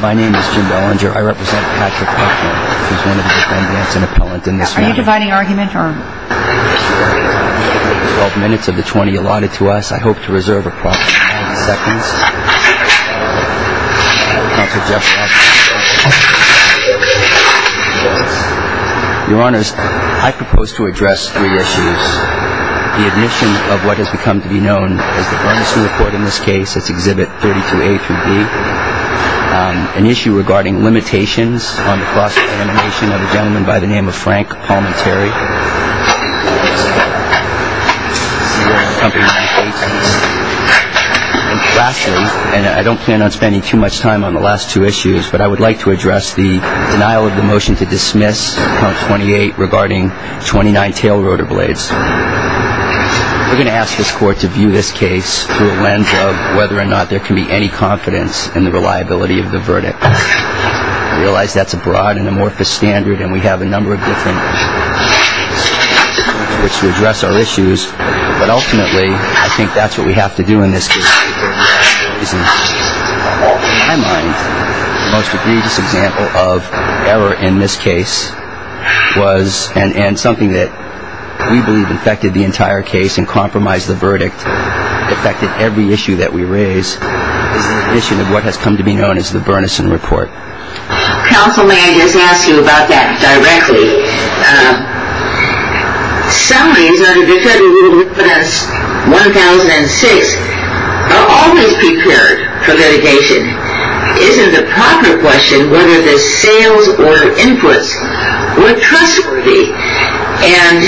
My name is Jim Bellinger. I represent Patrick Buckner, who is one of the defendants and appellant in this case. Are you dividing argument or? 12 minutes of the 20 allotted to us. I hope to reserve approximately 20 seconds. Your honors, I propose to address three issues. The admission of what has become to be known as the Bernstein Report in this case, that's Exhibit 32A through B. An issue regarding limitations on the cross-examination of a gentleman by the name of Frank Palminteri. Lastly, and I don't plan on spending too much time on the last two issues, but I would like to address the denial of the motion to dismiss, count 28, regarding 29 tail rotor blades. We're going to ask this court to view this case through a lens of whether or not there can be any confidence in the reliability of the verdict. I realize that's a broad and amorphous standard and we have a number of different standards which address our issues, but ultimately I think that's what we have to do in this case. In my mind, the most egregious example of error in this case was, and something that we believe affected the entire case and compromised the verdict, affected every issue that we raised, is the admission of what has come to be known as the Bernstein Report. Counsel, may I just ask you about that directly? Sellings under Defendant Rule 1,006 are always prepared for litigation. Isn't the proper question whether the sales or inputs were trustworthy? And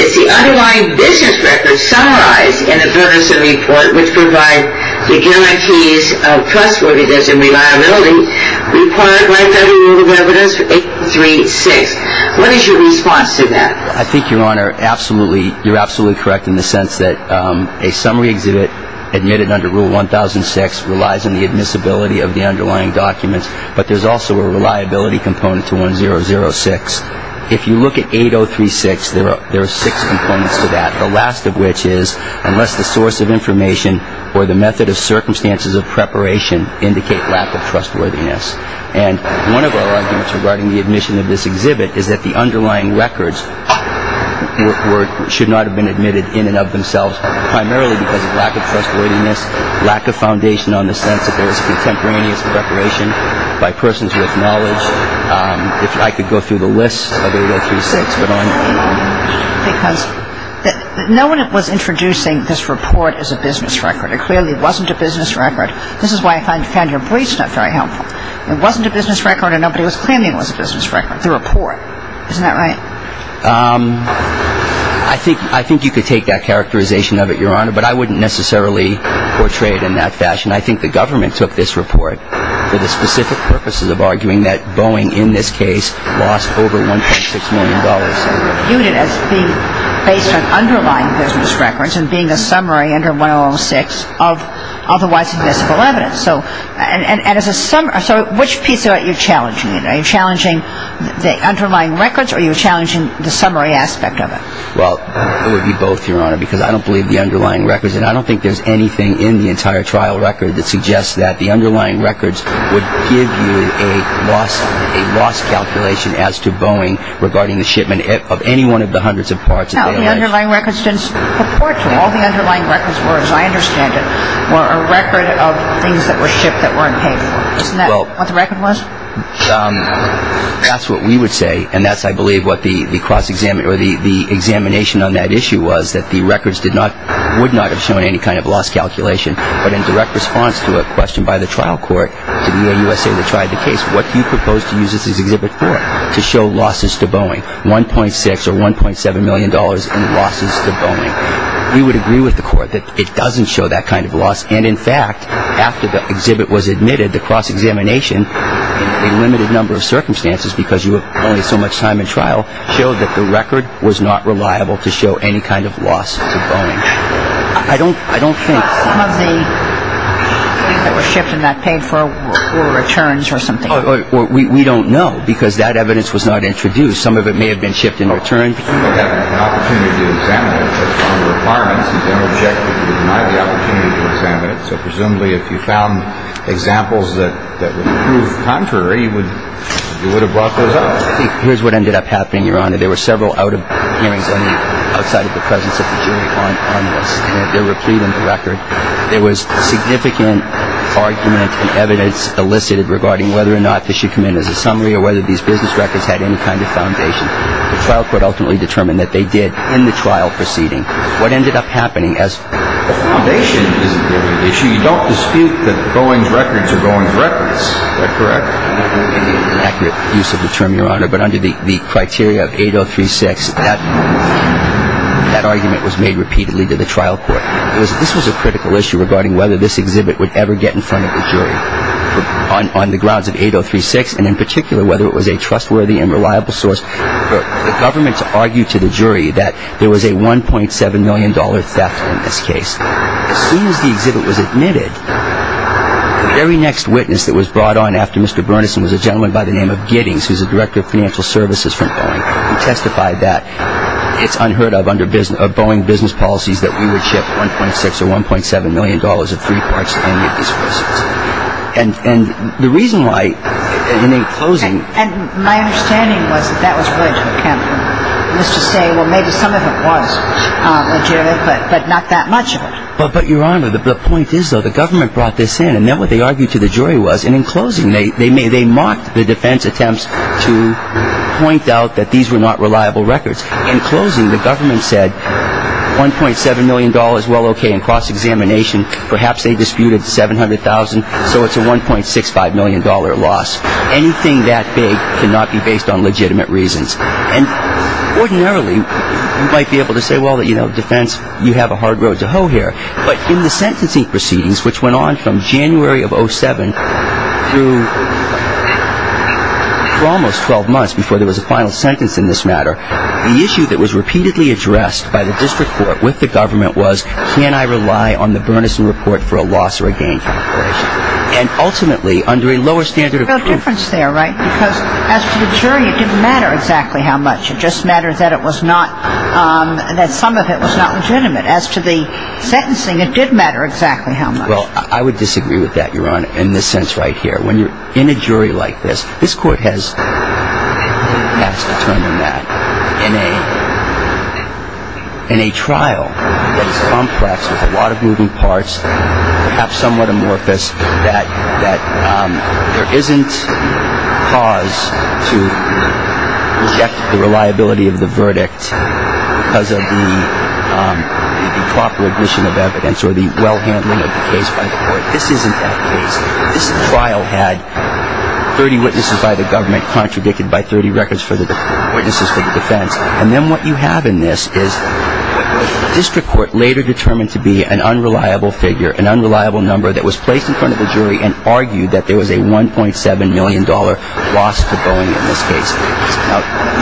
is the underlying business record summarized in the Bernstein Report which provides the guarantees of trustworthiness and reliability required by Defendant Rule 1,006? What is your response to that? I think, Your Honor, you're absolutely correct in the sense that a summary exhibit admitted under Rule 1,006 relies on the admissibility of the underlying documents, but there's also a reliability component to 1-0-0-6. If you look at 8-0-3-6, there are six components to that, the last of which is unless the source of information or the method of circumstances of preparation indicate lack of trustworthiness. And one of our arguments regarding the admission of this exhibit is that the underlying records should not have been admitted in and of themselves primarily because of lack of trustworthiness, lack of foundation on the sense that there was contemporaneous preparation by persons with knowledge. If I could go through the list of 8-0-3-6, but I'm... Because no one was introducing this report as a business record. It clearly wasn't a business record. This is why I found your briefs not very helpful. It wasn't a business record and nobody was claiming it was a business record, the report. Isn't that right? I think you could take that characterization of it, Your Honor, but I wouldn't necessarily portray it in that fashion. I think the government took this report for the specific purposes of arguing that Boeing, in this case, lost over $1.6 million. You viewed it as being based on underlying business records and being a summary under 1-0-0-6 of otherwise invisible evidence. So which piece of it are you challenging? Are you challenging the underlying records or are you challenging the summary aspect of it? Well, it would be both, Your Honor, because I don't believe the underlying records, and I don't think there's anything in the entire trial record that suggests that the underlying records would give you a loss calculation as to Boeing regarding the shipment of any one of the hundreds of parts. No, the underlying records didn't purport to. All the underlying records were, as I understand it, were a record of things that were shipped that weren't paid for. Isn't that what the record was? That's what we would say, and that's, I believe, what the examination on that issue was, that the records would not have shown any kind of loss calculation, but in direct response to a question by the trial court to the AUSA that tried the case, what do you propose to use this exhibit for? To show losses to Boeing, $1.6 or $1.7 million in losses to Boeing. We would agree with the court that it doesn't show that kind of loss, and, in fact, after the exhibit was admitted, the cross-examination, in a limited number of circumstances because you have only so much time in trial, showed that the record was not reliable to show any kind of loss to Boeing. I don't think. Some of the things that were shipped and not paid for were returns or something. We don't know because that evidence was not introduced. Some of it may have been shipped in return. You presumably have an opportunity to examine it. That's one of the requirements. You don't object if you're denied the opportunity to examine it, so presumably if you found examples that would prove contrary, you would have brought those up. Here's what ended up happening, Your Honor. There were several out-of-hearings outside of the presence of the jury on this, and there were a plea in the record. There was significant argument and evidence elicited regarding whether or not this should come in as a summary or whether these business records had any kind of foundation. The trial court ultimately determined that they did in the trial proceeding. What ended up happening as— The foundation is the issue. You don't dispute that Boeing's records are Boeing's records. Is that correct? Not in the accurate use of the term, Your Honor, but under the criteria of 8036, that argument was made repeatedly to the trial court. This was a critical issue regarding whether this exhibit would ever get in front of the jury. On the grounds of 8036, and in particular whether it was a trustworthy and reliable source, the government argued to the jury that there was a $1.7 million theft in this case. As soon as the exhibit was admitted, the very next witness that was brought on after Mr. Burnison was a gentleman by the name of Giddings, who's the director of financial services for Boeing, who testified that it's unheard of under Boeing business policies that we would ship $1.6 or $1.7 million of three parts to any of these persons. And the reason why, in closing— And my understanding was that that was really to account for Mr. Say, well, maybe some of it was legitimate, but not that much of it. But, Your Honor, the point is, though, the government brought this in, and then what they argued to the jury was, and in closing, they mocked the defense attempts to point out that these were not reliable records. In closing, the government said, $1.7 million, well, okay. In cross-examination, perhaps they disputed $700,000, so it's a $1.65 million loss. Anything that big cannot be based on legitimate reasons. And ordinarily, you might be able to say, well, you know, defense, you have a hard road to hoe here. But in the sentencing proceedings, which went on from January of 07 through almost 12 months before there was a final sentence in this matter, the issue that was repeatedly addressed by the district court with the government was, can I rely on the Bernison Report for a loss or a gain calculation? And ultimately, under a lower standard of proof— There's no difference there, right? Because as to the jury, it didn't matter exactly how much. It just mattered that it was not—that some of it was not legitimate. As to the sentencing, it did matter exactly how much. Well, I would disagree with that, Your Honor, in this sense right here. When you're in a jury like this, this court has passed a term in that. In a trial that is complex with a lot of moving parts, perhaps somewhat amorphous, that there isn't cause to reject the reliability of the verdict because of the proper addition of evidence or the well-handling of the case by the court. This isn't that case. This trial had 30 witnesses by the government contradicted by 30 witnesses for the defense. And then what you have in this is what the district court later determined to be an unreliable figure, an unreliable number that was placed in front of the jury and argued that there was a $1.7 million loss to Boeing in this case.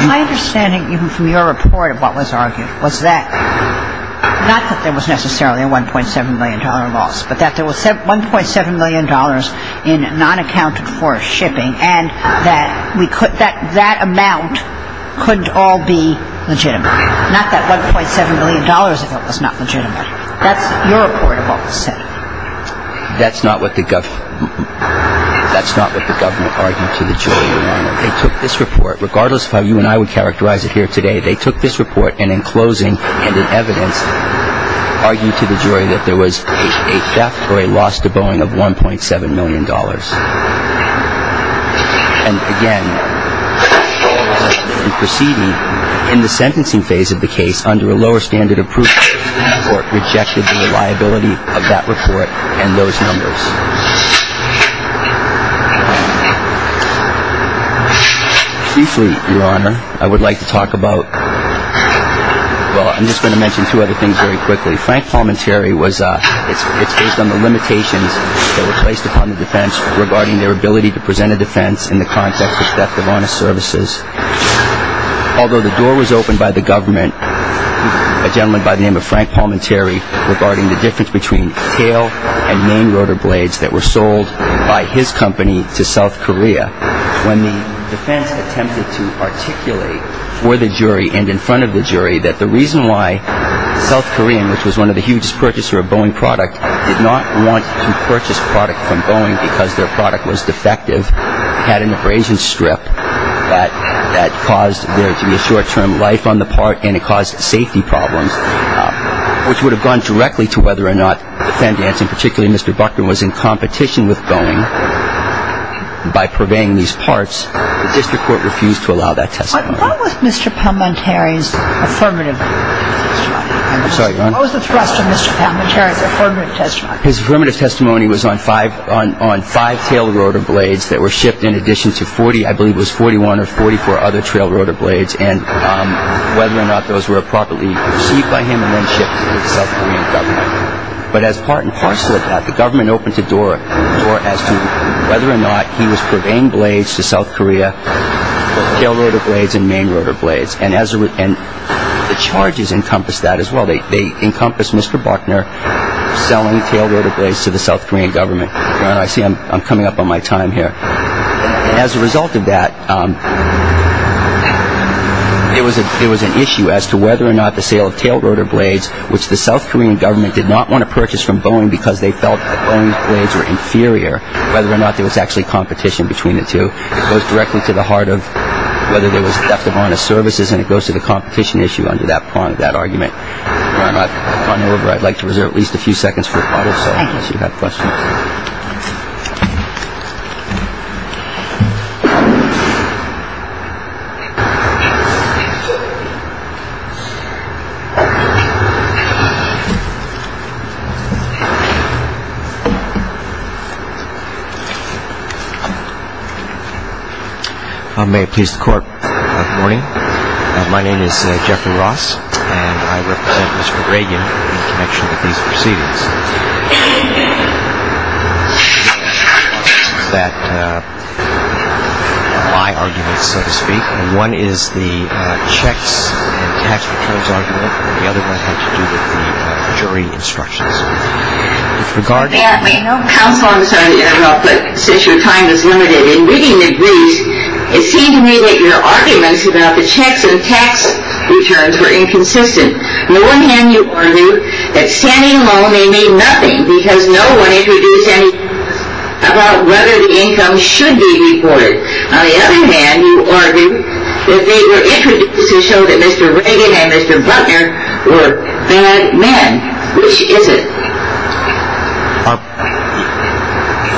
My understanding, even from your report, of what was argued was that— not that there was necessarily a $1.7 million loss, but that there was $1.7 million in non-accounted-for shipping and that that amount couldn't all be legitimate. Not that $1.7 million of it was not legitimate. That's your report of what was said. That's not what the government argued to the jury, Your Honor. They took this report, regardless of how you and I would characterize it here today, they took this report and, in closing and in evidence, argued to the jury that there was a theft or a loss to Boeing of $1.7 million. And, again, proceeding in the sentencing phase of the case under a lower standard of proof, the court rejected the reliability of that report and those numbers. Briefly, Your Honor, I would like to talk about— well, I'm just going to mention two other things very quickly. Frank Palminteri was—it's based on the limitations that were placed upon the defense regarding their ability to present a defense in the context of theft of honest services. Although the door was opened by the government, a gentleman by the name of Frank Palminteri, regarding the difference between tail and main rotor blades that were sold by his company to South Korea, when the defense attempted to articulate for the jury and in front of the jury that the reason why South Korean, which was one of the hugest purchasers of Boeing product, did not want to purchase product from Boeing because their product was defective, had an abrasion strip that caused there to be a short-term life on the part and it caused safety problems, which would have gone directly to whether or not the defendant, and particularly Mr. Buckner, was in competition with Boeing by purveying these parts. The district court refused to allow that testimony. What was Mr. Palminteri's affirmative testimony? I'm sorry, Your Honor. What was the thrust of Mr. Palminteri's affirmative testimony? His affirmative testimony was on five tail rotor blades that were shipped in addition to 40— I believe it was 41 or 44 other trail rotor blades and whether or not those were properly received by him and then shipped to the South Korean government. But as part and parcel of that, the government opened the door as to whether or not he was purveying blades to South Korea, both tail rotor blades and main rotor blades. And the charges encompassed that as well. They encompassed Mr. Buckner selling tail rotor blades to the South Korean government. Your Honor, I see I'm coming up on my time here. As a result of that, it was an issue as to whether or not the sale of tail rotor blades, which the South Korean government did not want to purchase from Boeing because they felt that Boeing's blades were inferior, whether or not there was actually competition between the two. It goes directly to the heart of whether there was theft of honest services, and it goes to the competition issue under that argument. Your Honor, if I may, I'd like to reserve at least a few seconds for questions. Thank you. May it please the Court, good morning. Good morning. My name is Jeffrey Ross, and I represent Mr. Reagan in connection with these proceedings. This is my argument, so to speak, and one is the checks and tax returns argument, and the other one had to do with the jury instructions. With regard to- Yeah, I mean, no counsel on this argument at all, but since your time is limited in reading the briefs, it seemed to me that your arguments about the checks and tax returns were inconsistent. On the one hand, you argued that standing alone may mean nothing because no one introduced anything about whether the income should be reported. On the other hand, you argued that they were introduced to show that Mr. Reagan and Mr. Butler were bad men. Which is it? A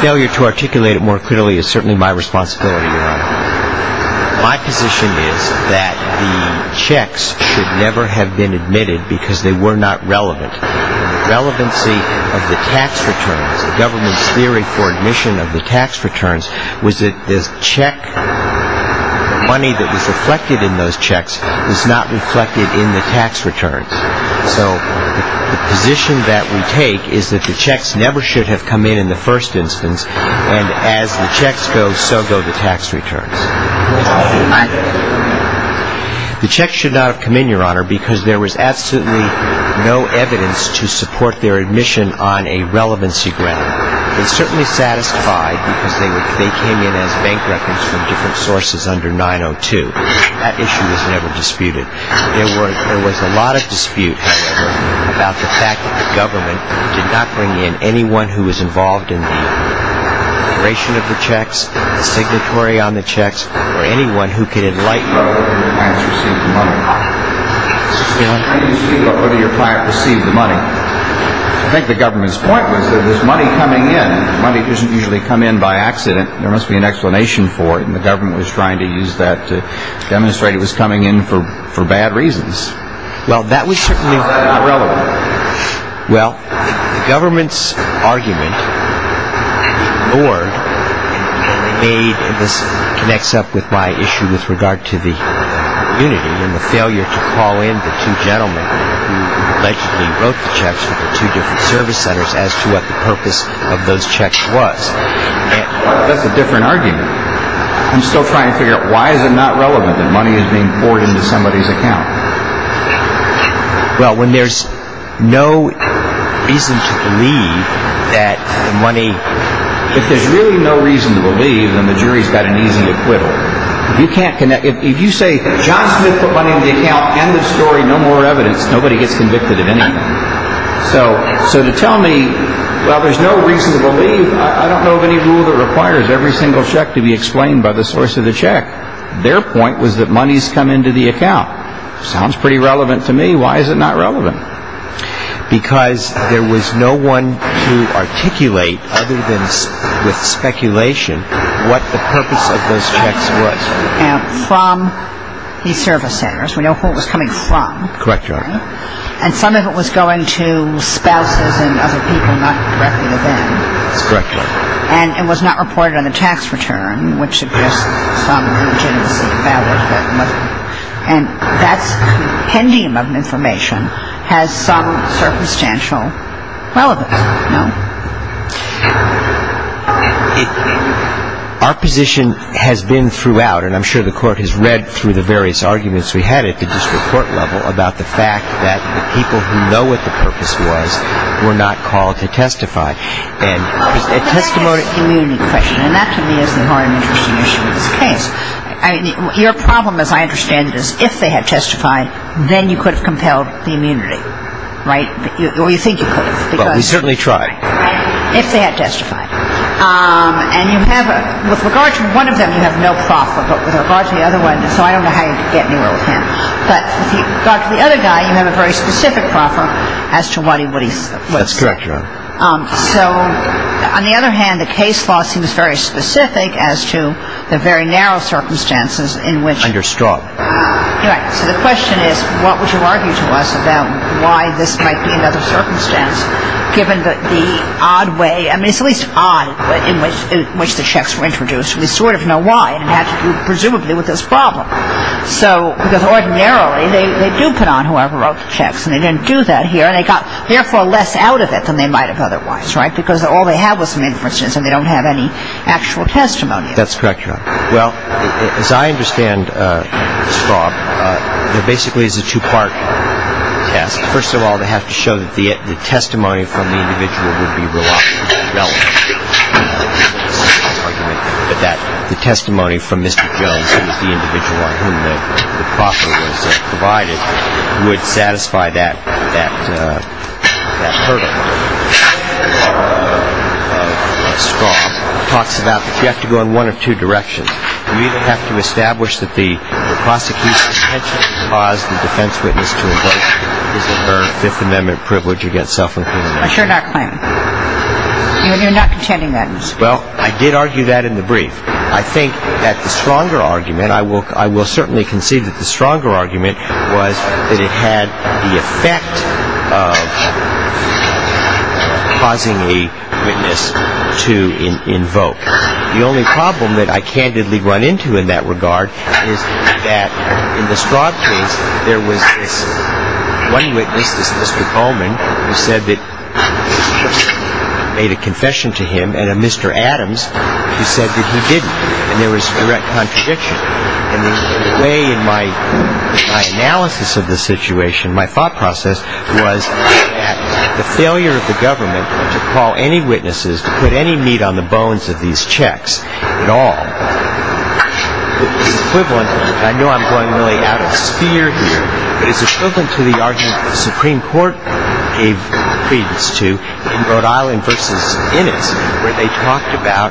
failure to articulate it more clearly is certainly my responsibility, Your Honor. My position is that the checks should never have been admitted because they were not relevant. The relevancy of the tax returns, the government's theory for admission of the tax returns, was that the money that was reflected in those checks was not reflected in the tax returns. So the position that we take is that the checks never should have come in in the first instance, and as the checks go, so go the tax returns. Why? The checks should not have come in, Your Honor, because there was absolutely no evidence to support their admission on a relevancy ground. They certainly satisfied because they came in as bank records from different sources under 902. That issue was never disputed. There was a lot of dispute, however, about the fact that the government did not bring in anyone who was involved in the operation of the checks, the signatory on the checks, or anyone who could enlighten us whether the clients received the money. Mr. Steele? How do you speak about whether your client received the money? I think the government's point was that there's money coming in. Money doesn't usually come in by accident. There must be an explanation for it, and the government was trying to use that to demonstrate it was coming in for bad reasons. Well, that was certainly not relevant. Well, the government's argument ignored, and this connects up with my issue with regard to the community and the failure to call in the two gentlemen who allegedly wrote the checks for the two different service centers as to what the purpose of those checks was. That's a different argument. I'm still trying to figure out why is it not relevant that money is being poured into somebody's account? Well, when there's no reason to believe that money... If there's really no reason to believe, then the jury's got an easy acquittal. If you say, John Smith put money in the account, end of story, no more evidence, nobody gets convicted of anything. So to tell me, well, there's no reason to believe, I don't know of any rule that requires every single check to be explained by the source of the check. Their point was that money's come into the account. Sounds pretty relevant to me. Why is it not relevant? Because there was no one to articulate, other than with speculation, what the purpose of those checks was. From these service centers. We know who it was coming from. Correct, Your Honor. And some of it was going to spouses and other people not directly to them. That's correct, Your Honor. And it was not reported on the tax return, which suggests some legitimacy. And that's a pendium of information, has some circumstantial relevance. Our position has been throughout, and I'm sure the court has read through the various arguments we had at the district court level about the fact that the people who know what the purpose was were not called to testify. And it's a testimony. But that is an immunity question. And that to me is the more interesting issue of this case. Your problem, as I understand it, is if they had testified, then you could have compelled the immunity, right? Or you think you could have. Well, we certainly tried. If they had testified. And you have, with regard to one of them, you have no proffer. But with regard to the other one, so I don't know how you could get anywhere with him. But with regard to the other guy, you have a very specific proffer as to what he would have said. That's correct, Your Honor. So on the other hand, the case law seems very specific as to the very narrow circumstances in which. And you're strong. You're right. So the question is, what would you argue to us about why this might be another circumstance, given the odd way, I mean, it's at least odd in which the checks were introduced. We sort of know why. It had to do, presumably, with this problem. So, because ordinarily, they do put on whoever wrote the checks. And they didn't do that here. And they got, therefore, less out of it than they might have otherwise, right? Because all they have was some inferences, and they don't have any actual testimony. That's correct, Your Honor. Well, as I understand, Mr. Traub, there basically is a two-part test. First of all, they have to show that the testimony from the individual would be reliable. But that the testimony from Mr. Jones, who was the individual on whom the property was provided, would satisfy that hurdle. Mr. Traub talks about that you have to go in one of two directions. You either have to establish that the prosecution intentionally caused the defense witness to invoke his or her Fifth Amendment privilege against self-incrimination. Assured our claim. You're not contending that, Mr. Traub. Well, I did argue that in the brief. I think that the stronger argument, I will certainly concede that the stronger argument was that it had the effect of causing a witness to invoke. The only problem that I candidly run into in that regard is that in the Straub case, there was this one witness, this Mr. Coleman, who said that he made a confession to him, and a Mr. Adams who said that he didn't. And there was direct contradiction. And the way in my analysis of the situation, my thought process, was that the failure of the government to call any witnesses, to put any meat on the bones of these checks at all, is equivalent, and I know I'm going really out of sphere here, but is equivalent to the argument the Supreme Court gave credence to in Rhode Island v. Innis, where they talked about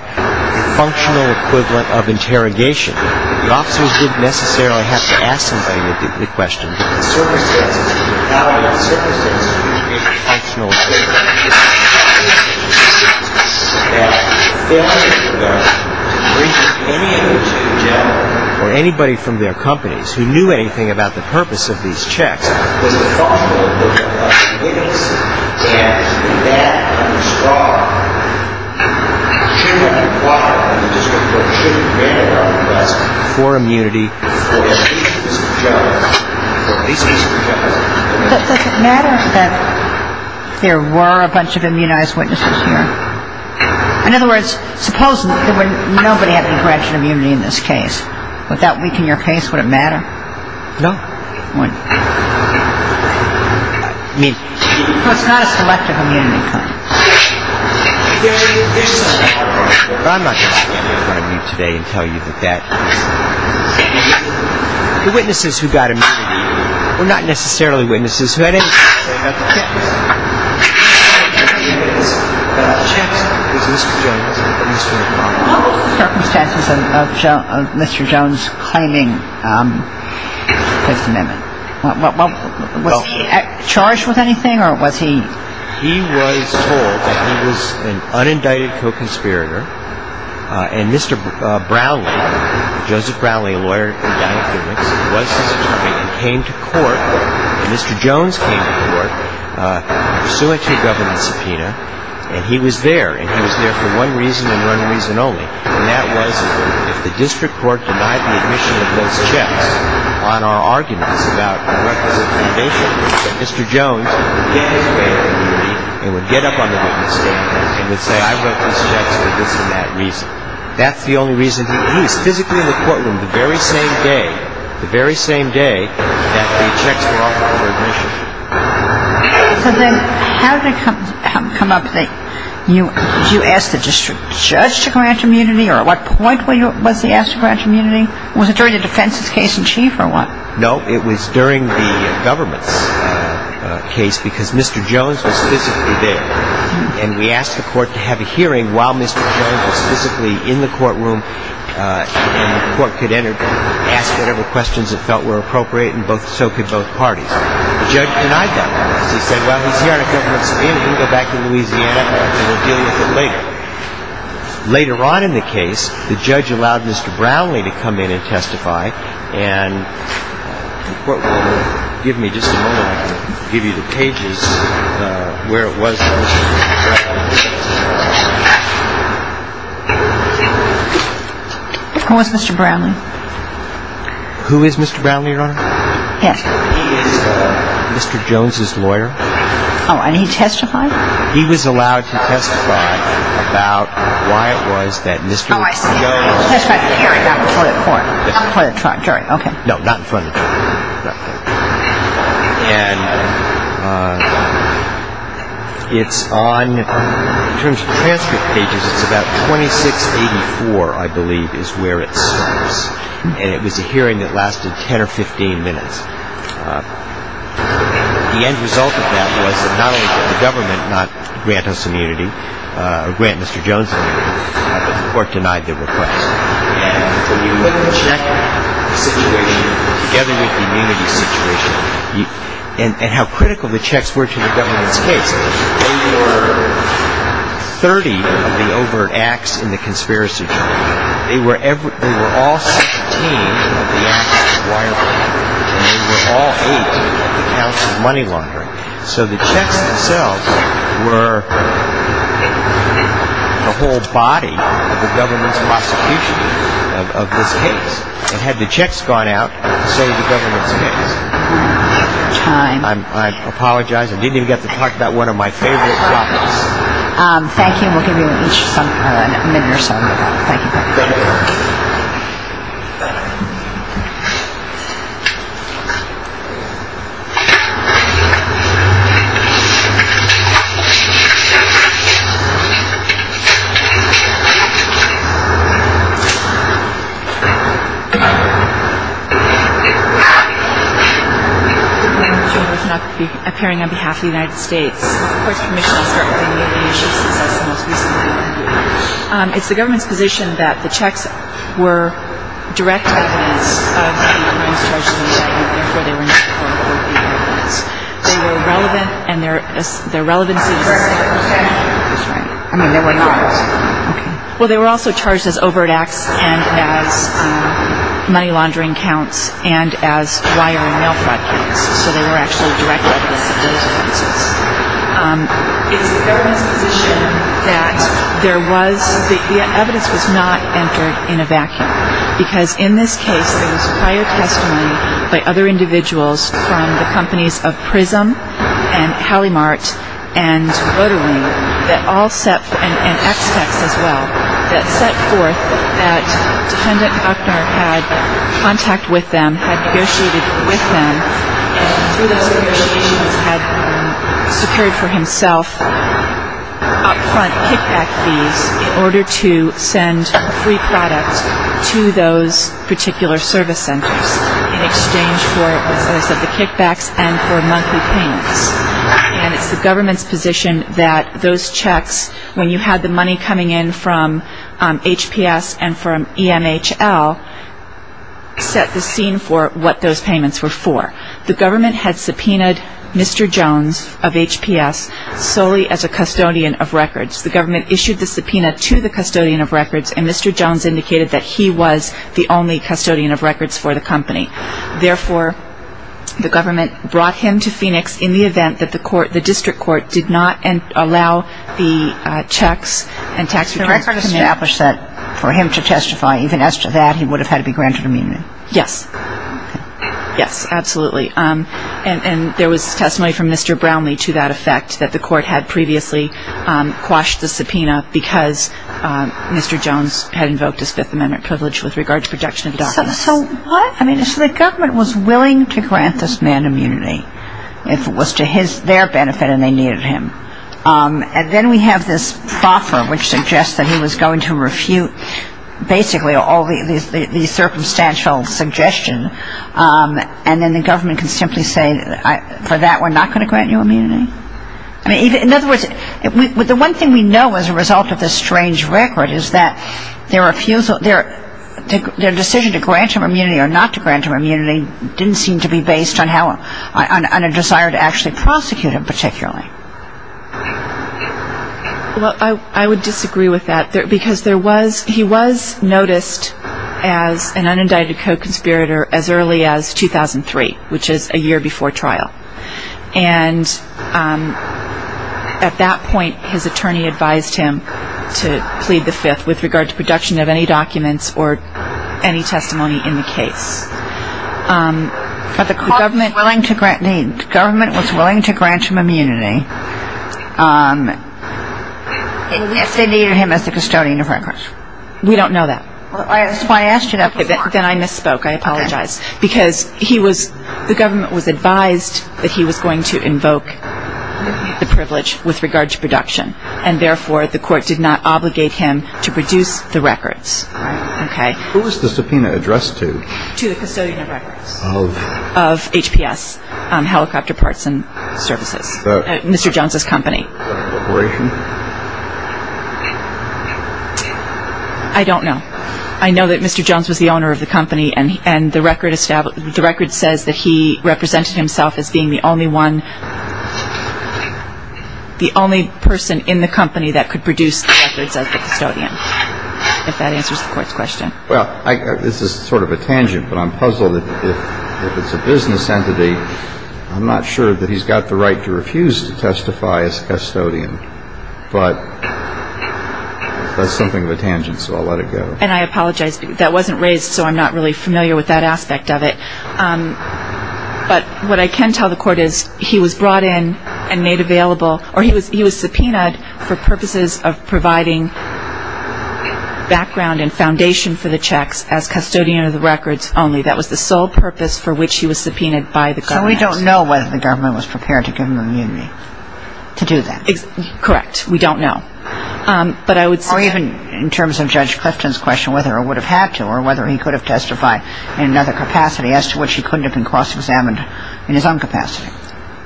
functional equivalent of interrogation. The officers didn't necessarily have to ask somebody the question. The circumstances, how our circumstances would have been functional equivalent, is that the failure of the government to bring any of these to the general, or anybody from their companies who knew anything about the purpose of these checks, was the fault of the government. Innis, Adams, did that on the Straub, should have been acquired by the Supreme Court, for immunity. Does it matter that there were a bunch of immunized witnesses here? In other words, suppose nobody had been granted immunity in this case. Would that weaken your case? Would it matter? No. It's not a selective immunity claim. There is... I'm not going to stand in front of you today and tell you that that is... The witnesses who got immunity, were not necessarily witnesses who had anything to say about the checks. They had nothing to say about the checks, but the checks was Mr. Jones and Mr. O'Connor. What were the circumstances of Mr. Jones claiming his amendment? Was he charged with anything, or was he... He was told that he was an unindicted co-conspirator, and Mr. Brownlee, Joseph Brownlee, a lawyer from Downey Publix, was his attorney and came to court, and Mr. Jones came to court, pursuant to a government subpoena, and he was there, and he was there for one reason and one reason only, and that was if the district court denied the admission of those checks on our arguments about the purpose of the amendment, that Mr. Jones would get his way out of the community, and would get up on the government stand, and would say, I wrote these checks for this and that reason. That's the only reason. He was physically in the courtroom the very same day, the very same day that the checks were offered for admission. So then, how did it come up that you asked the district judge to grant immunity, or at what point was he asked to grant immunity? Was it during the defense's case in chief, or what? No, it was during the government's case, because Mr. Jones was physically there, and we asked the court to have a hearing while Mr. Jones was physically in the courtroom, and the court could ask whatever questions it felt were appropriate, and so could both parties. The judge denied that. He said, well, he's here on a government subpoena. He can go back to Louisiana, and we'll deal with it later. Later on in the case, the judge allowed Mr. Brownlee to come in and testify, and give me just a moment. I'll give you the pages where it was that Mr. Brownlee testified. Who was Mr. Brownlee? Who is Mr. Brownlee, Your Honor? Yes. He is Mr. Jones's lawyer. Oh, and he testified? He was allowed to testify about why it was that Mr. Jones testified at the hearing, not in front of the court, not in front of the jury. No, not in front of the jury. And it's on, in terms of transcript pages, it's about 2684, I believe, is where it starts, and it was a hearing that lasted 10 or 15 minutes. The end result of that was that not only did the government not grant us immunity, or grant Mr. Jones immunity, but the court denied the request. And when you look at the check situation, together with the immunity situation, and how critical the checks were to the government's case, they were 30 of the overt acts in the conspiracy jury. They were all 16 of the acts of wire fraud, and they were all 8 of the counts of money laundering. So the checks themselves were the whole body of the government's prosecution of this case. And had the checks gone out, so would the government's case. Time. I apologize, I didn't even get to talk about one of my favorite topics. Thank you, and we'll give you each a minute or so. Thank you. Thank you. Thank you. Thank you for appearing on behalf of the United States. Of course, Commissioner, I'll start with any of the issues, since that's the most recent one. It's the government's position that the checks were direct evidence of the abuse, and therefore, they were not charged in a vacuum, and therefore, they were not court-ordered evidence. They were relevant, and their relevancy is the same. Well, they were also charged as overt acts, and as money laundering counts, and as wire and mail fraud counts. So they were actually direct evidence of those offenses. It's the government's position that the evidence was not entered in a vacuum, because in this case, there was prior testimony by other individuals from the companies of PRISM and Halimart and Voter Wing that all set, and EXPECTS as well, that set forth that Defendant Buckner had contact with them, had negotiated with them, and through those negotiations, had secured for himself up-front kickback fees in order to send free products to those particular service centers in exchange for the kickbacks and for monthly payments. And it's the government's position that those checks, when you had the money coming in from HPS and from EMHL, set the scene for what those payments were for. The government had subpoenaed Mr. Jones of HPS solely as a custodian of records. The government issued the subpoena to the custodian of records, and Mr. Jones indicated that he was the only custodian of records for the company. Therefore, the government brought him to Phoenix in the event that the district court did not allow the checks and tax returns to him. And you established that for him to testify, even as to that, he would have had to be granted immunity? Yes. Yes, absolutely. And there was testimony from Mr. Brownlee to that effect, that the court had previously quashed the subpoena because Mr. Jones had invoked his Fifth Amendment privilege with regard to protection of documents. So what? I mean, so the government was willing to grant this man immunity if it was to their benefit and they needed him. And then we have this proffer which suggests that he was going to refute basically all these circumstantial suggestions, and then the government can simply say, for that we're not going to grant you immunity? In other words, the one thing we know as a result of this strange record is that their refusal, their decision to grant him immunity or not to grant him immunity didn't seem to be based on how, on a desire to actually prosecute him particularly. Well, I would disagree with that because he was noticed as an unindicted co-conspirator as early as 2003, which is a year before trial. And at that point, his attorney advised him to plead the Fifth with regard to protection of any documents or any testimony in the case. But the government was willing to grant him immunity if they needed him as the custodian of records. We don't know that. That's why I asked you that. Then I misspoke. I apologize. Because the government was advised that he was going to invoke the privilege with regard to protection, and therefore the court did not obligate him to produce the records. All right. Okay. Who was the subpoena addressed to? To the custodian of records. Of? Of HPS, Helicopter Parts and Services, Mr. Jones's company. Was that a corporation? I don't know. I know that Mr. Jones was the owner of the company, and the record says that he represented himself as being the only one, the only person in the company that could produce the records as the custodian, if that answers the court's question. Well, this is sort of a tangent, but I'm puzzled. If it's a business entity, I'm not sure that he's got the right to refuse to testify as custodian. But that's something of a tangent, so I'll let it go. And I apologize. That wasn't raised, so I'm not really familiar with that aspect of it. But what I can tell the Court is he was brought in and made available or he was subpoenaed for purposes of providing background and foundation for the checks as custodian of the records only. That was the sole purpose for which he was subpoenaed by the government. So we don't know whether the government was prepared to give him immunity to do that. Correct. We don't know. Or even in terms of Judge Clifton's question, whether it would have had to or whether he could have testified in another capacity as to which he couldn't have been cross-examined in his own capacity.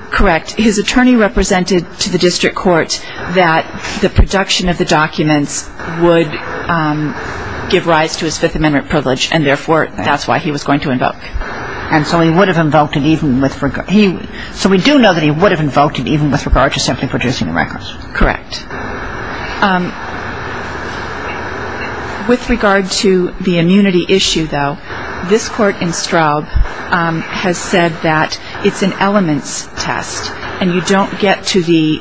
Correct. And his attorney represented to the district court that the production of the documents would give rise to his Fifth Amendment privilege, and therefore, that's why he was going to invoke. And so he would have invoked it even with regard to simply producing the records. Correct. With regard to the immunity issue, though, this Court in Straub has said that it's an elements test and you don't get to the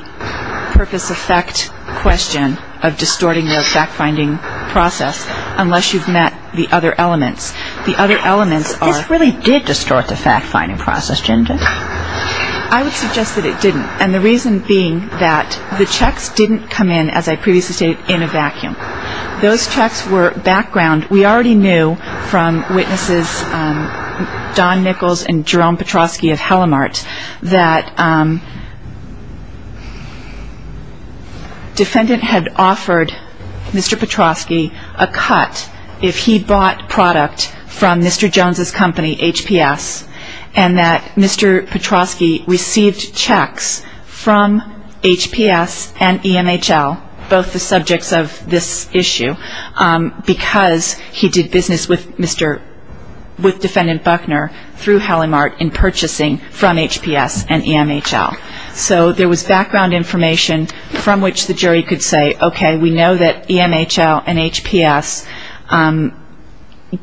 purpose effect question of distorting the fact-finding process unless you've met the other elements. The other elements are ---- This really did distort the fact-finding process, Ginger. I would suggest that it didn't, and the reason being that the checks didn't come in, as I previously stated, in a vacuum. Those checks were background. And we already knew from witnesses Don Nichols and Jerome Petrosky of Halimart that defendant had offered Mr. Petrosky a cut if he bought product from Mr. Jones' company, HPS, and that Mr. Petrosky received checks from HPS and EMHL, both the subjects of this issue, because he did business with Mr. ---- with defendant Buckner through Halimart in purchasing from HPS and EMHL. So there was background information from which the jury could say, okay, we know that EMHL and HPS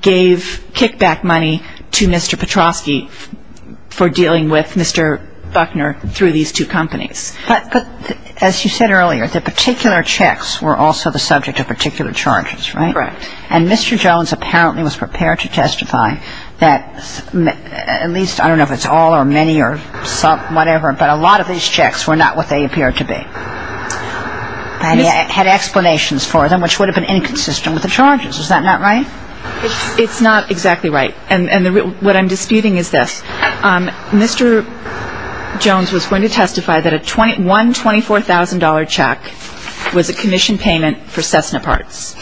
gave kickback money to Mr. Petrosky for dealing with Mr. Buckner through these two companies. But as you said earlier, the particular checks were also the subject of particular charges, right? Correct. And Mr. Jones apparently was prepared to testify that at least, I don't know if it's all or many or whatever, but a lot of these checks were not what they appeared to be. And he had explanations for them, which would have been inconsistent with the charges. Is that not right? It's not exactly right. And what I'm disputing is this. Mr. Jones was going to testify that one $24,000 check was a commission payment for Cessna parts.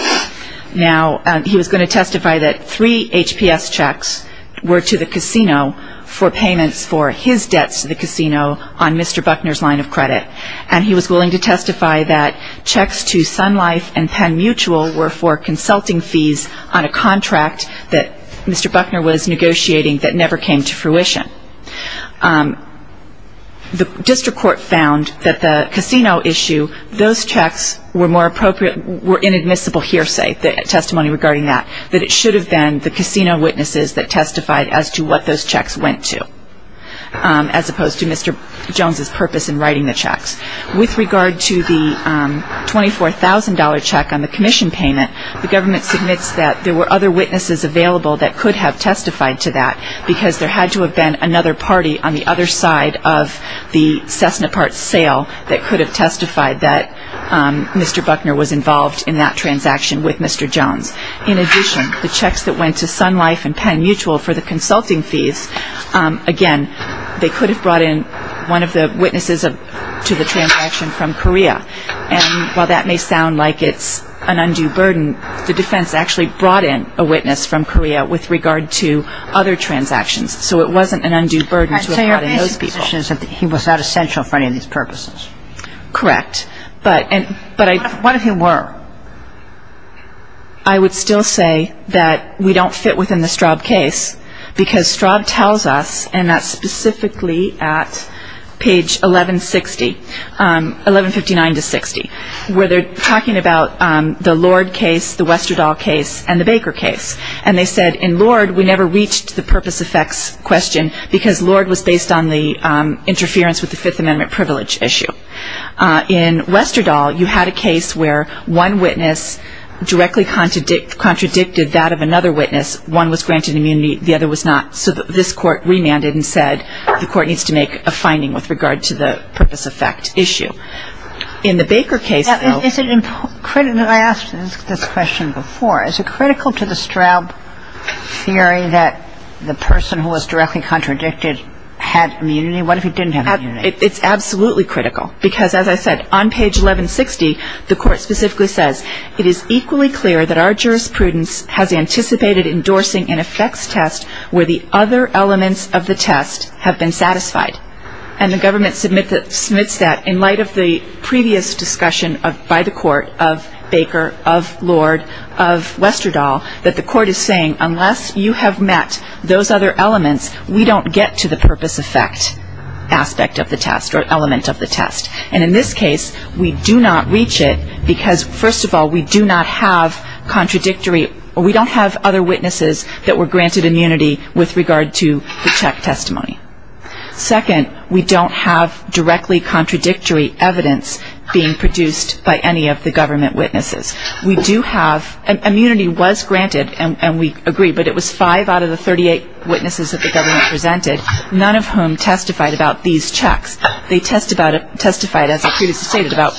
Now, he was going to testify that three HPS checks were to the casino for payments for his debts to the casino on Mr. Buckner's line of credit, and he was willing to testify that checks to Sun Life and Penn Mutual were for consulting fees on a contract that Mr. Buckner was negotiating that never came to fruition. The district court found that the casino issue, those checks were more appropriate, were inadmissible hearsay testimony regarding that, that it should have been the casino witnesses that testified as to what those checks went to, as opposed to Mr. Jones's purpose in writing the checks. With regard to the $24,000 check on the commission payment, the government submits that there were other witnesses available that could have testified to that because there had to have been another party on the other side of the Cessna parts sale that could have testified that Mr. Buckner was involved in that transaction with Mr. Jones. In addition, the checks that went to Sun Life and Penn Mutual for the consulting fees, again, they could have brought in one of the witnesses to the transaction from Korea. And while that may sound like it's an undue burden, the defense actually brought in a witness from Korea with regard to other transactions, so it wasn't an undue burden to have brought in those people. So your basic position is that he was not essential for any of these purposes? Correct. But I – What if he were? I would still say that we don't fit within the Straub case because Straub tells us, and that's specifically at page 1160, 1159 to 60, where they're talking about the Lord case, the Westerdahl case, and the Baker case. And they said, in Lord, we never reached the purpose effects question because Lord was based on the interference with the Fifth Amendment privilege issue. In Westerdahl, you had a case where one witness directly contradicted that of another witness. One was granted immunity, the other was not. So this court remanded and said, the court needs to make a finding with regard to the purpose effect issue. In the Baker case, though – I asked this question before. Is it critical to the Straub theory that the person who was directly contradicted had immunity? What if he didn't have immunity? It's absolutely critical because, as I said, on page 1160, the court specifically says, it is equally clear that our jurisprudence has anticipated endorsing an effects test where the other elements of the test have been satisfied. And the government submits that in light of the previous discussion by the court of Baker, of Lord, of Westerdahl, that the court is saying, unless you have met those other elements, we don't get to the purpose effect aspect of the test or element of the test. And in this case, we do not reach it because, first of all, we do not have contradictory – we don't have other witnesses that were granted immunity with regard to the check testimony. Second, we don't have directly contradictory evidence being produced by any of the government witnesses. We do have – immunity was granted, and we agree, but it was five out of the 38 witnesses that the government presented, none of whom testified about these checks. They testified, as I previously stated, about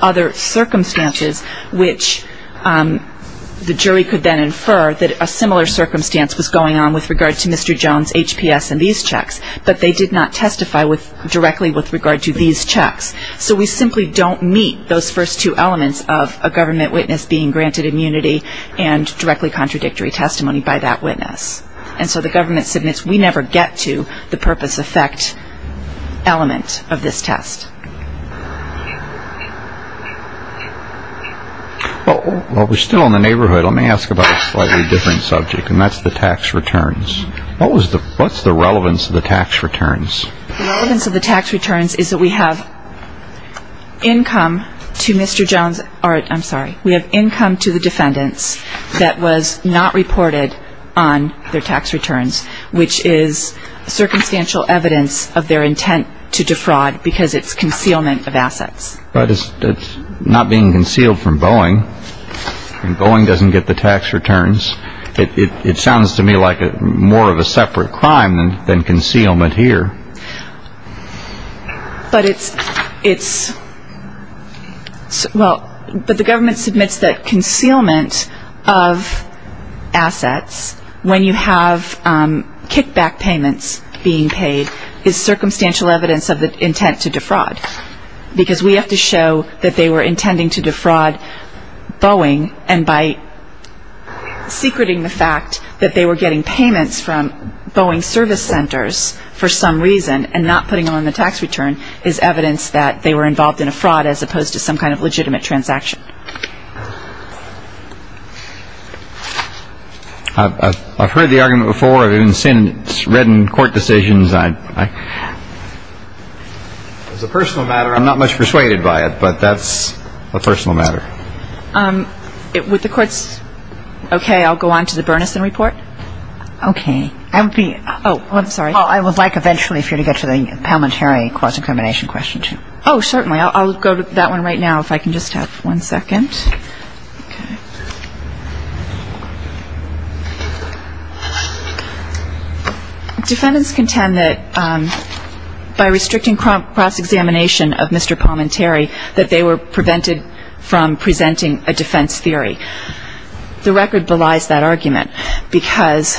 other circumstances, which the jury could then infer that a similar circumstance was going on with regard to Mr. Jones' HPS and these checks, but they did not testify directly with regard to these checks. So we simply don't meet those first two elements of a government witness being granted immunity and directly contradictory testimony by that witness. And so the government submits, we never get to the purpose effect element of this test. Well, we're still in the neighborhood. Let me ask about a slightly different subject, and that's the tax returns. What's the relevance of the tax returns? The relevance of the tax returns is that we have income to Mr. Jones – I'm sorry, we have income to the defendants that was not reported on their tax returns, which is circumstantial evidence of their intent to defraud because it's concealment of assets. But it's not being concealed from Boeing, and Boeing doesn't get the tax returns. It sounds to me like more of a separate crime than concealment here. But it's – well, but the government submits that concealment of assets when you have kickback payments being paid is circumstantial evidence of the intent to defraud because we have to show that they were intending to defraud Boeing and by secreting the fact that they were getting payments from Boeing service centers for some reason and not putting them on the tax return is evidence that they were involved in a fraud as opposed to some kind of legitimate transaction. I've heard the argument before. I've even seen it. It's read in court decisions. As a personal matter, I'm not much persuaded by it, but that's a personal matter. Would the courts – okay, I'll go on to the Bernison report. Okay. I would be – oh, I'm sorry. Well, I would like eventually for you to get to the Palminteri cross-examination question, too. Oh, certainly. I'll go to that one right now if I can just have one second. Defendants contend that by restricting cross-examination of Mr. Palminteri, that they were prevented from presenting a defense theory. The record belies that argument because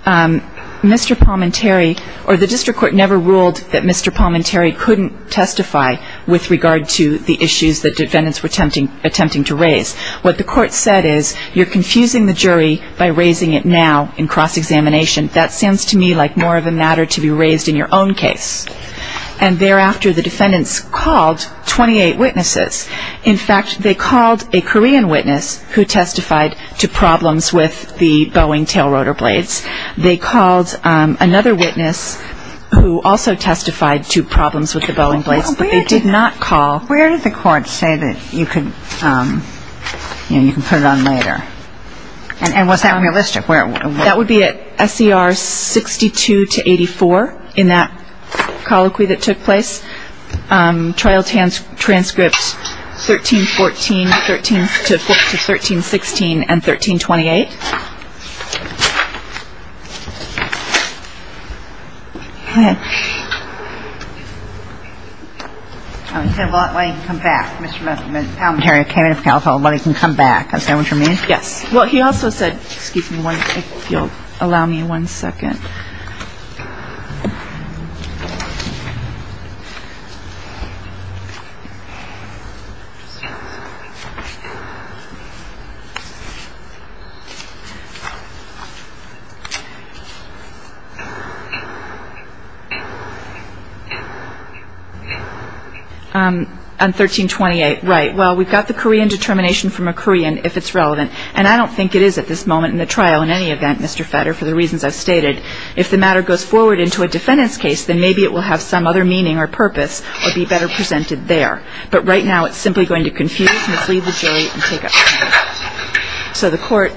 Mr. Palminteri – or the district court never ruled that Mr. Palminteri couldn't testify with regard to the issues that defendants were attempting to raise. What the court said is, you're confusing the jury by raising it now in cross-examination. That sounds to me like more of a matter to be raised in your own case. And thereafter, the defendants called 28 witnesses. In fact, they called a Korean witness who testified to problems with the Boeing tail rotor blades. They called another witness who also testified to problems with the Boeing blades, but they did not call – Where did the court say that you could – you know, you can put it on later? And was that realistic? Where – That would be at S.E.R. 62 to 84 in that colloquy that took place. Trial transcripts 13-14, 13-14 to 13-16, and 13-28. He said, well, I can come back. Mr. Palminteri came in for counsel. Well, he can come back. Is that what you mean? Yes. Well, he also said – excuse me one second. If you'll allow me one second. I'm sorry. On 13-28, right. Well, we've got the Korean determination from a Korean, if it's relevant. And I don't think it is at this moment in the trial in any event, Mr. Fetter, for the reasons I've stated. If the matter goes forward into a defendant's case, then maybe it will have some other meaning or purpose or be better presented there. But right now, it's simply going to confuse, mislead the jury, and take up time. So the court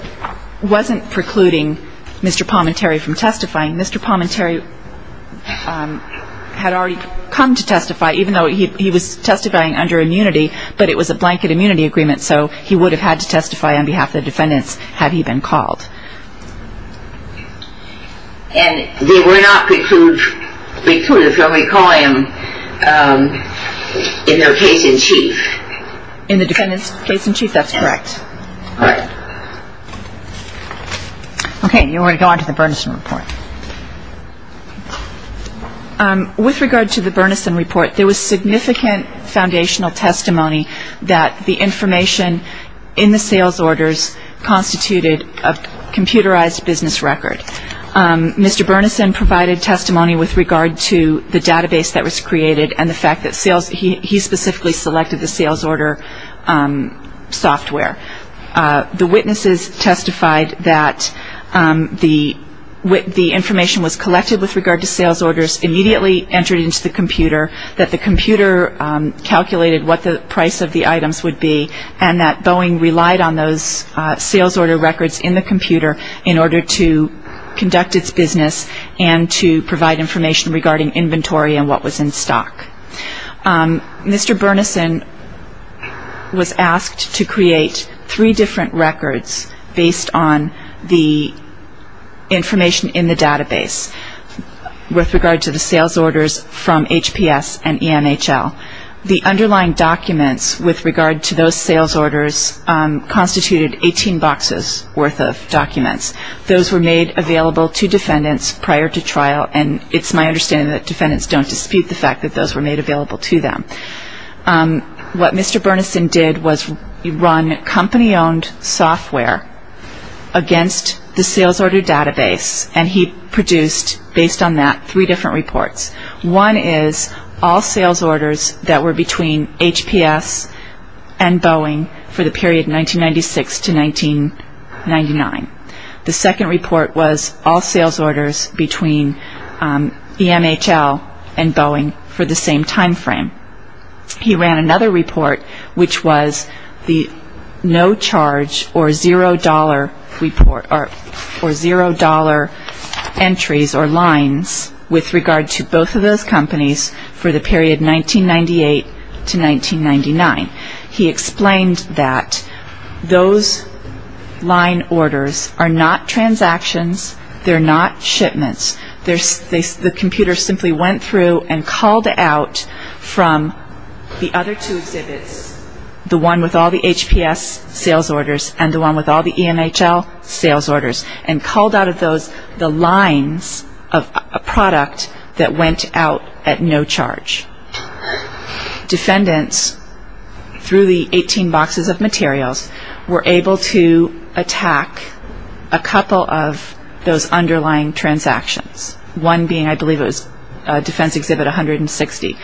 wasn't precluding Mr. Palminteri from testifying. Mr. Palminteri had already come to testify, even though he was testifying under immunity, but it was a blanket immunity agreement, so he would have had to testify on behalf of the defendants had he been called. And they were not precluded from recalling him in their case-in-chief. In the defendant's case-in-chief, that's correct. All right. Okay, and then we're going to go on to the Bernison Report. With regard to the Bernison Report, there was significant foundational testimony that the information in the sales orders constituted a computerized business record. Mr. Bernison provided testimony with regard to the database that was created and the fact that he specifically selected the sales order software. The witnesses testified that the information was collected with regard to sales orders, immediately entered into the computer, that the computer calculated what the price of the items would be, and that Boeing relied on those sales order records in the computer in order to conduct its business and to provide information regarding inventory and what was in stock. Mr. Bernison was asked to create three different records based on the information in the database. With regard to the sales orders from HPS and EMHL, the underlying documents with regard to those sales orders constituted 18 boxes worth of documents. Those were made available to defendants prior to trial, and it's my understanding that defendants don't dispute the fact that those were made available to them. What Mr. Bernison did was run company-owned software against the sales order database, and he produced, based on that, three different reports. One is all sales orders that were between HPS and Boeing for the period 1996 to 1999. The second report was all sales orders between EMHL and Boeing for the same time frame. He ran another report, which was the no-charge or zero-dollar entries or lines with regard to both of those companies for the period 1998 to 1999. He explained that those line orders are not transactions, they're not shipments. The computer simply went through and called out from the other two exhibits, the one with all the HPS sales orders and the one with all the EMHL sales orders, and called out of those the lines of a product that went out at no charge. Defendants, through the 18 boxes of materials, were able to attack a couple of those underlying transactions, one being, I believe it was Defense Exhibit 160.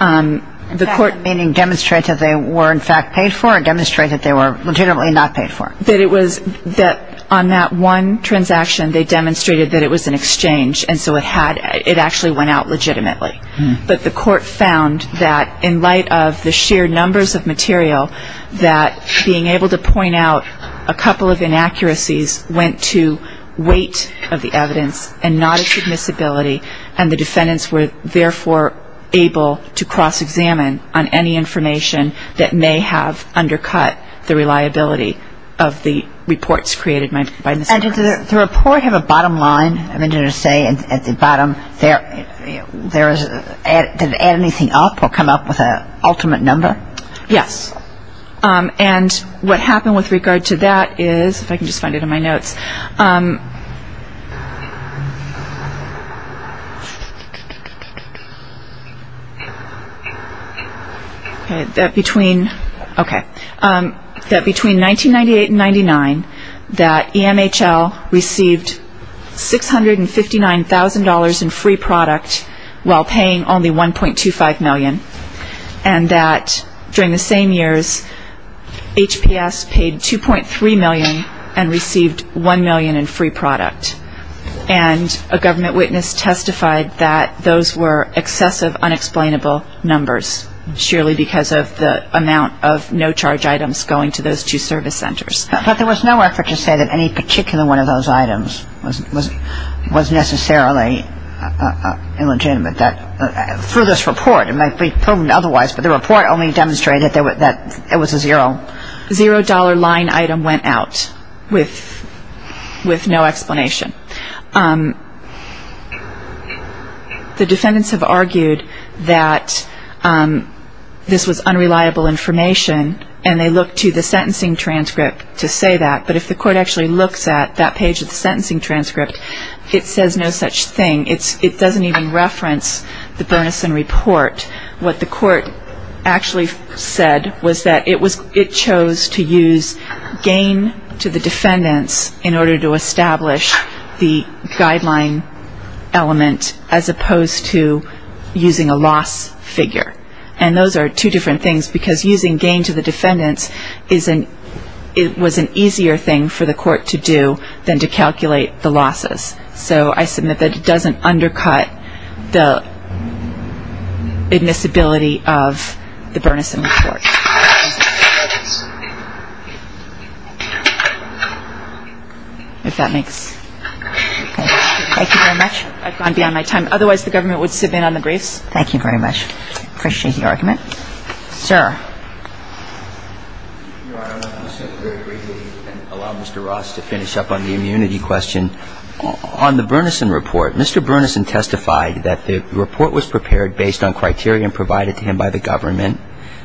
In fact, meaning demonstrate that they were in fact paid for or demonstrate that they were legitimately not paid for? That on that one transaction, they demonstrated that it was an exchange, and so it actually went out legitimately. But the court found that in light of the sheer numbers of material, that being able to point out a couple of inaccuracies went to weight of the evidence and not its admissibility, and the defendants were therefore able to cross-examine on any information that may have undercut the reliability of the reports created by Mr. Harris. And did the report have a bottom line? I mean, did it say at the bottom, did it add anything up or come up with an ultimate number? Yes. And what happened with regard to that is, if I can just find it in my notes, that between 1998 and 1999, that EMHL received $659,000 in free product while paying only $1.25 million, and that during the same years, HPS paid $2.3 million and received $1 million in free product. And a government witness testified that those were excessive, unexplainable numbers, surely because of the amount of no-charge items going to those two service centers. But there was no effort to say that any particular one of those items was necessarily illegitimate. Through this report, it might be proven otherwise, but the report only demonstrated that it was a zero. A zero-dollar line item went out with no explanation. The defendants have argued that this was unreliable information, and they looked to the sentencing transcript to say that. But if the court actually looks at that page of the sentencing transcript, it says no such thing. It doesn't even reference the Bernison report. What the court actually said was that it chose to use gain to the defendants in order to establish the guideline element as opposed to using a loss figure. And those are two different things, because using gain to the defendants was an easier thing for the court to do than to calculate the losses. So I submit that it doesn't undercut the admissibility of the Bernison report. If that makes sense. Thank you very much. I've gone beyond my time. Otherwise, the government would sit in on the briefs. Thank you very much. I appreciate the argument. Sir. Your Honor, let me say very briefly and allow Mr. Ross to finish up on the immunity question. On the Bernison report, Mr. Bernison testified that the report was prepared based on criteria provided to him by the government,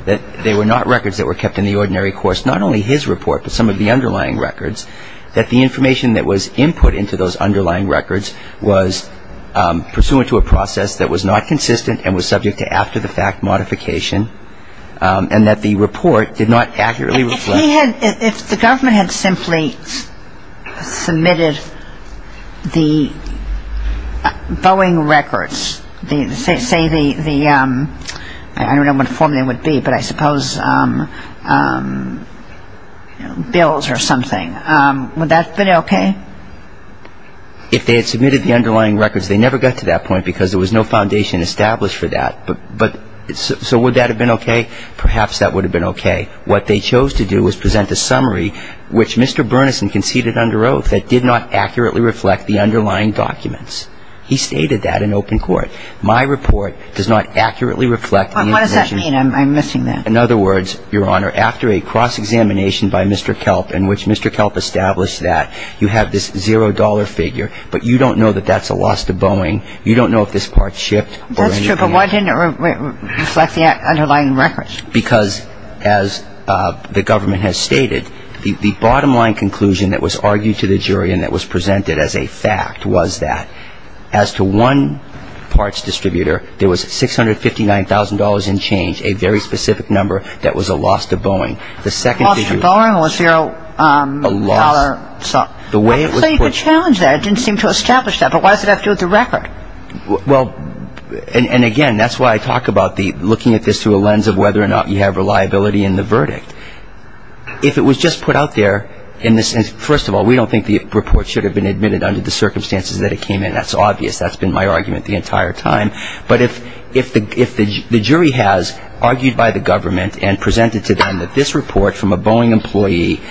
that they were not records that were kept in the ordinary course, not only his report, but some of the underlying records, that the information that was input into those underlying records was pursuant to a process that was not consistent and was subject to after-the-fact modification. And that the report did not accurately reflect. If the government had simply submitted the Boeing records, say the, I don't know what the formula would be, but I suppose bills or something, would that have been okay? If they had submitted the underlying records, they never got to that point, because there was no foundation established for that. So would that have been okay? Perhaps that would have been okay. What they chose to do was present a summary, which Mr. Bernison conceded under oath, that did not accurately reflect the underlying documents. He stated that in open court. My report does not accurately reflect the information. What does that mean? I'm missing that. In other words, Your Honor, after a cross-examination by Mr. Kelp, in which Mr. Kelp established that, you have this zero-dollar figure, but you don't know that that's a loss to Boeing. You don't know if this part shipped or anything else. That's true, but why didn't it reflect the underlying records? Because, as the government has stated, the bottom-line conclusion that was argued to the jury and that was presented as a fact was that, as to one parts distributor, there was $659,000 in change, a very specific number, that was a loss to Boeing. A loss to Boeing or a zero-dollar sum? I thought you could challenge that. It didn't seem to establish that. But why does it have to do with the record? Well, and again, that's why I talk about looking at this through a lens of whether or not you have reliability in the verdict. If it was just put out there in the sense, first of all, we don't think the report should have been admitted under the circumstances that it came in. That's obvious. That's been my argument the entire time. But if the jury has argued by the government and presented to them that this report from a Boeing employee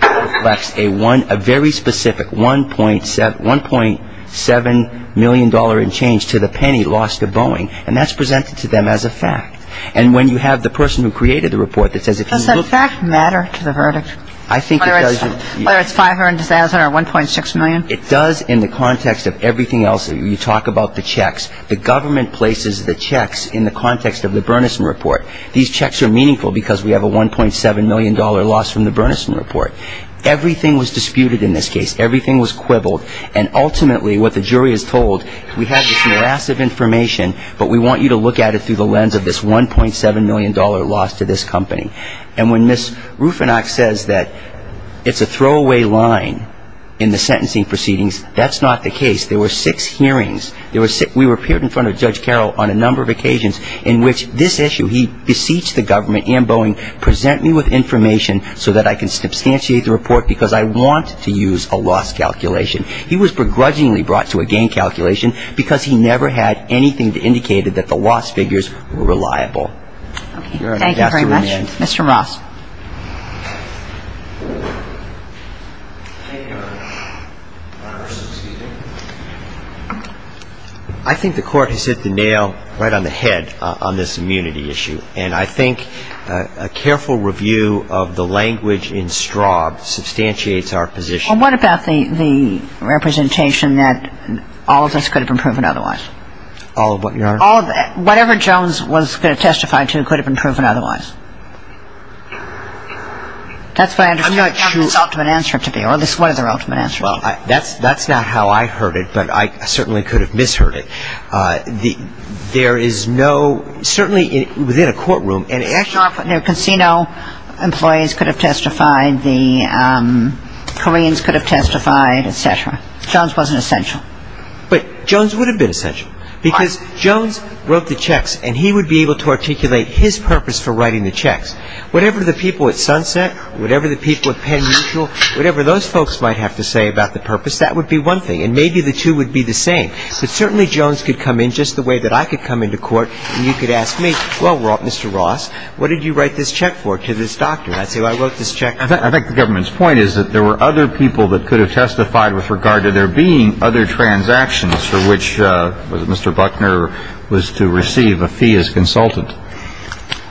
reflects a very specific $1.7 million in change to the penny lost to Boeing, and that's presented to them as a fact, and when you have the person who created the report that says, if you look... Does that fact matter to the verdict? I think it does. Whether it's $500,000 or $1.6 million? It does in the context of everything else. You talk about the checks. The government places the checks in the context of the Burnison Report. These checks are meaningful because we have a $1.7 million loss from the Burnison Report. Everything was disputed in this case. Everything was quibbled. And ultimately what the jury is told, we have this massive information, but we want you to look at it through the lens of this $1.7 million loss to this company. And when Ms. Rufinock says that it's a throwaway line in the sentencing proceedings, that's not the case. There were six hearings. We appeared in front of Judge Carroll on a number of occasions in which this issue, he beseeched the government and Boeing, present me with information so that I can substantiate the report because I want to use a loss calculation. He was begrudgingly brought to a gain calculation because he never had anything to indicate that the loss figures were reliable. Thank you very much. Mr. Ross. I think the Court has hit the nail right on the head on this immunity issue. And I think a careful review of the language in Straub substantiates our position. Well, what about the representation that all of this could have been proven otherwise? All of what, Your Honor? All of it. Whatever Jones was going to testify to could have been proven otherwise. That's what I understand this ultimate answer to be, or at least what is the ultimate answer to be. Well, that's not how I heard it, but I certainly could have misheard it. There is no, certainly within a courtroom, and actually... The casino employees could have testified. The Koreans could have testified, et cetera. Jones wasn't essential. But Jones would have been essential because Jones wrote the checks and he would be able to articulate his purpose for writing the checks. Whatever the people at Sunset, whatever the people at Penn Mutual, whatever those folks might have to say about the purpose, that would be one thing. And maybe the two would be the same. But certainly Jones could come in just the way that I could come into court and you could ask me, well, Mr. Ross, what did you write this check for to this doctor? And I'd say, well, I wrote this check... I think the government's point is that there were other people that could have testified with regard to there being other transactions for which Mr. Buckner was to receive a fee as consultant.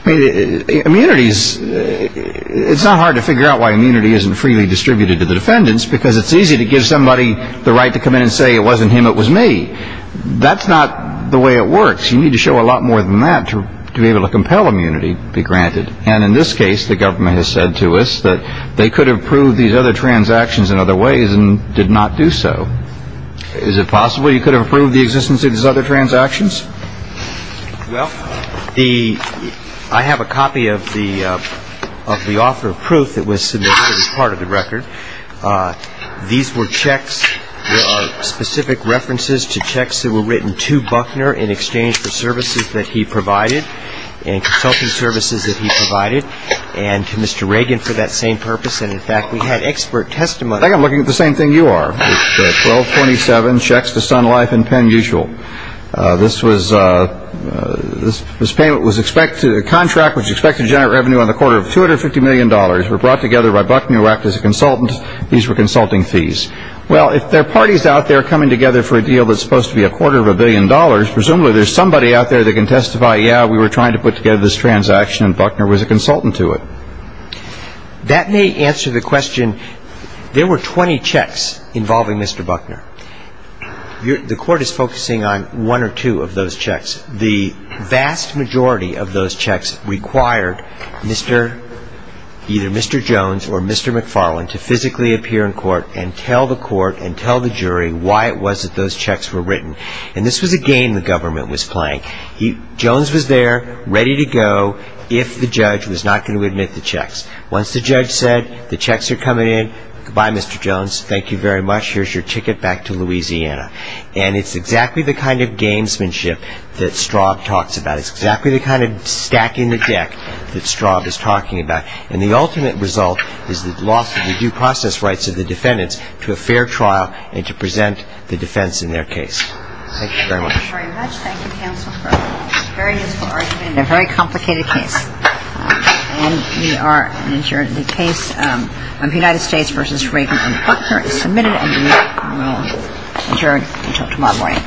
Immunities, it's not hard to figure out why immunity isn't freely distributed to the defendants because it's easy to give somebody the right to come in and say it wasn't him, it was me. That's not the way it works. You need to show a lot more than that to be able to compel immunity to be granted. And in this case, the government has said to us that they could have proved these other transactions in other ways and did not do so. Is it possible you could have proved the existence of these other transactions? Well, I have a copy of the offer of proof that was submitted as part of the record. These were checks, specific references to checks that were written to Buckner in exchange for services that he provided and consulting services that he provided. And to Mr. Reagan for that same purpose. And, in fact, we had expert testimony. I think I'm looking at the same thing you are. It's the 1227 checks to Sun Life and Penn Usual. This payment was expected, the contract was expected to generate revenue on the quarter of $250 million. It was brought together by Buckner who acted as a consultant. These were consulting fees. Well, if there are parties out there coming together for a deal that's supposed to be a quarter of a billion dollars, presumably there's somebody out there that can testify, yeah, we were trying to put together this transaction and Buckner was a consultant to it. That may answer the question. There were 20 checks involving Mr. Buckner. The court is focusing on one or two of those checks. The vast majority of those checks required either Mr. Jones or Mr. McFarlane to physically appear in court and tell the court and tell the jury why it was that those checks were written. And this was a game the government was playing. Jones was there ready to go if the judge was not going to admit the checks. Once the judge said the checks are coming in, goodbye Mr. Jones, thank you very much, here's your ticket back to Louisiana. And it's exactly the kind of gamesmanship that Straub talks about. It's exactly the kind of stacking the deck that Straub is talking about. And the ultimate result is the loss of the due process rights of the defendants to a fair trial and to present the defense in their case. Thank you very much. Thank you, counsel, for a very useful argument in a very complicated case. And we are adjourned. The case of United States v. Reagan and Buckner is submitted and we will adjourn until tomorrow morning. Thank you.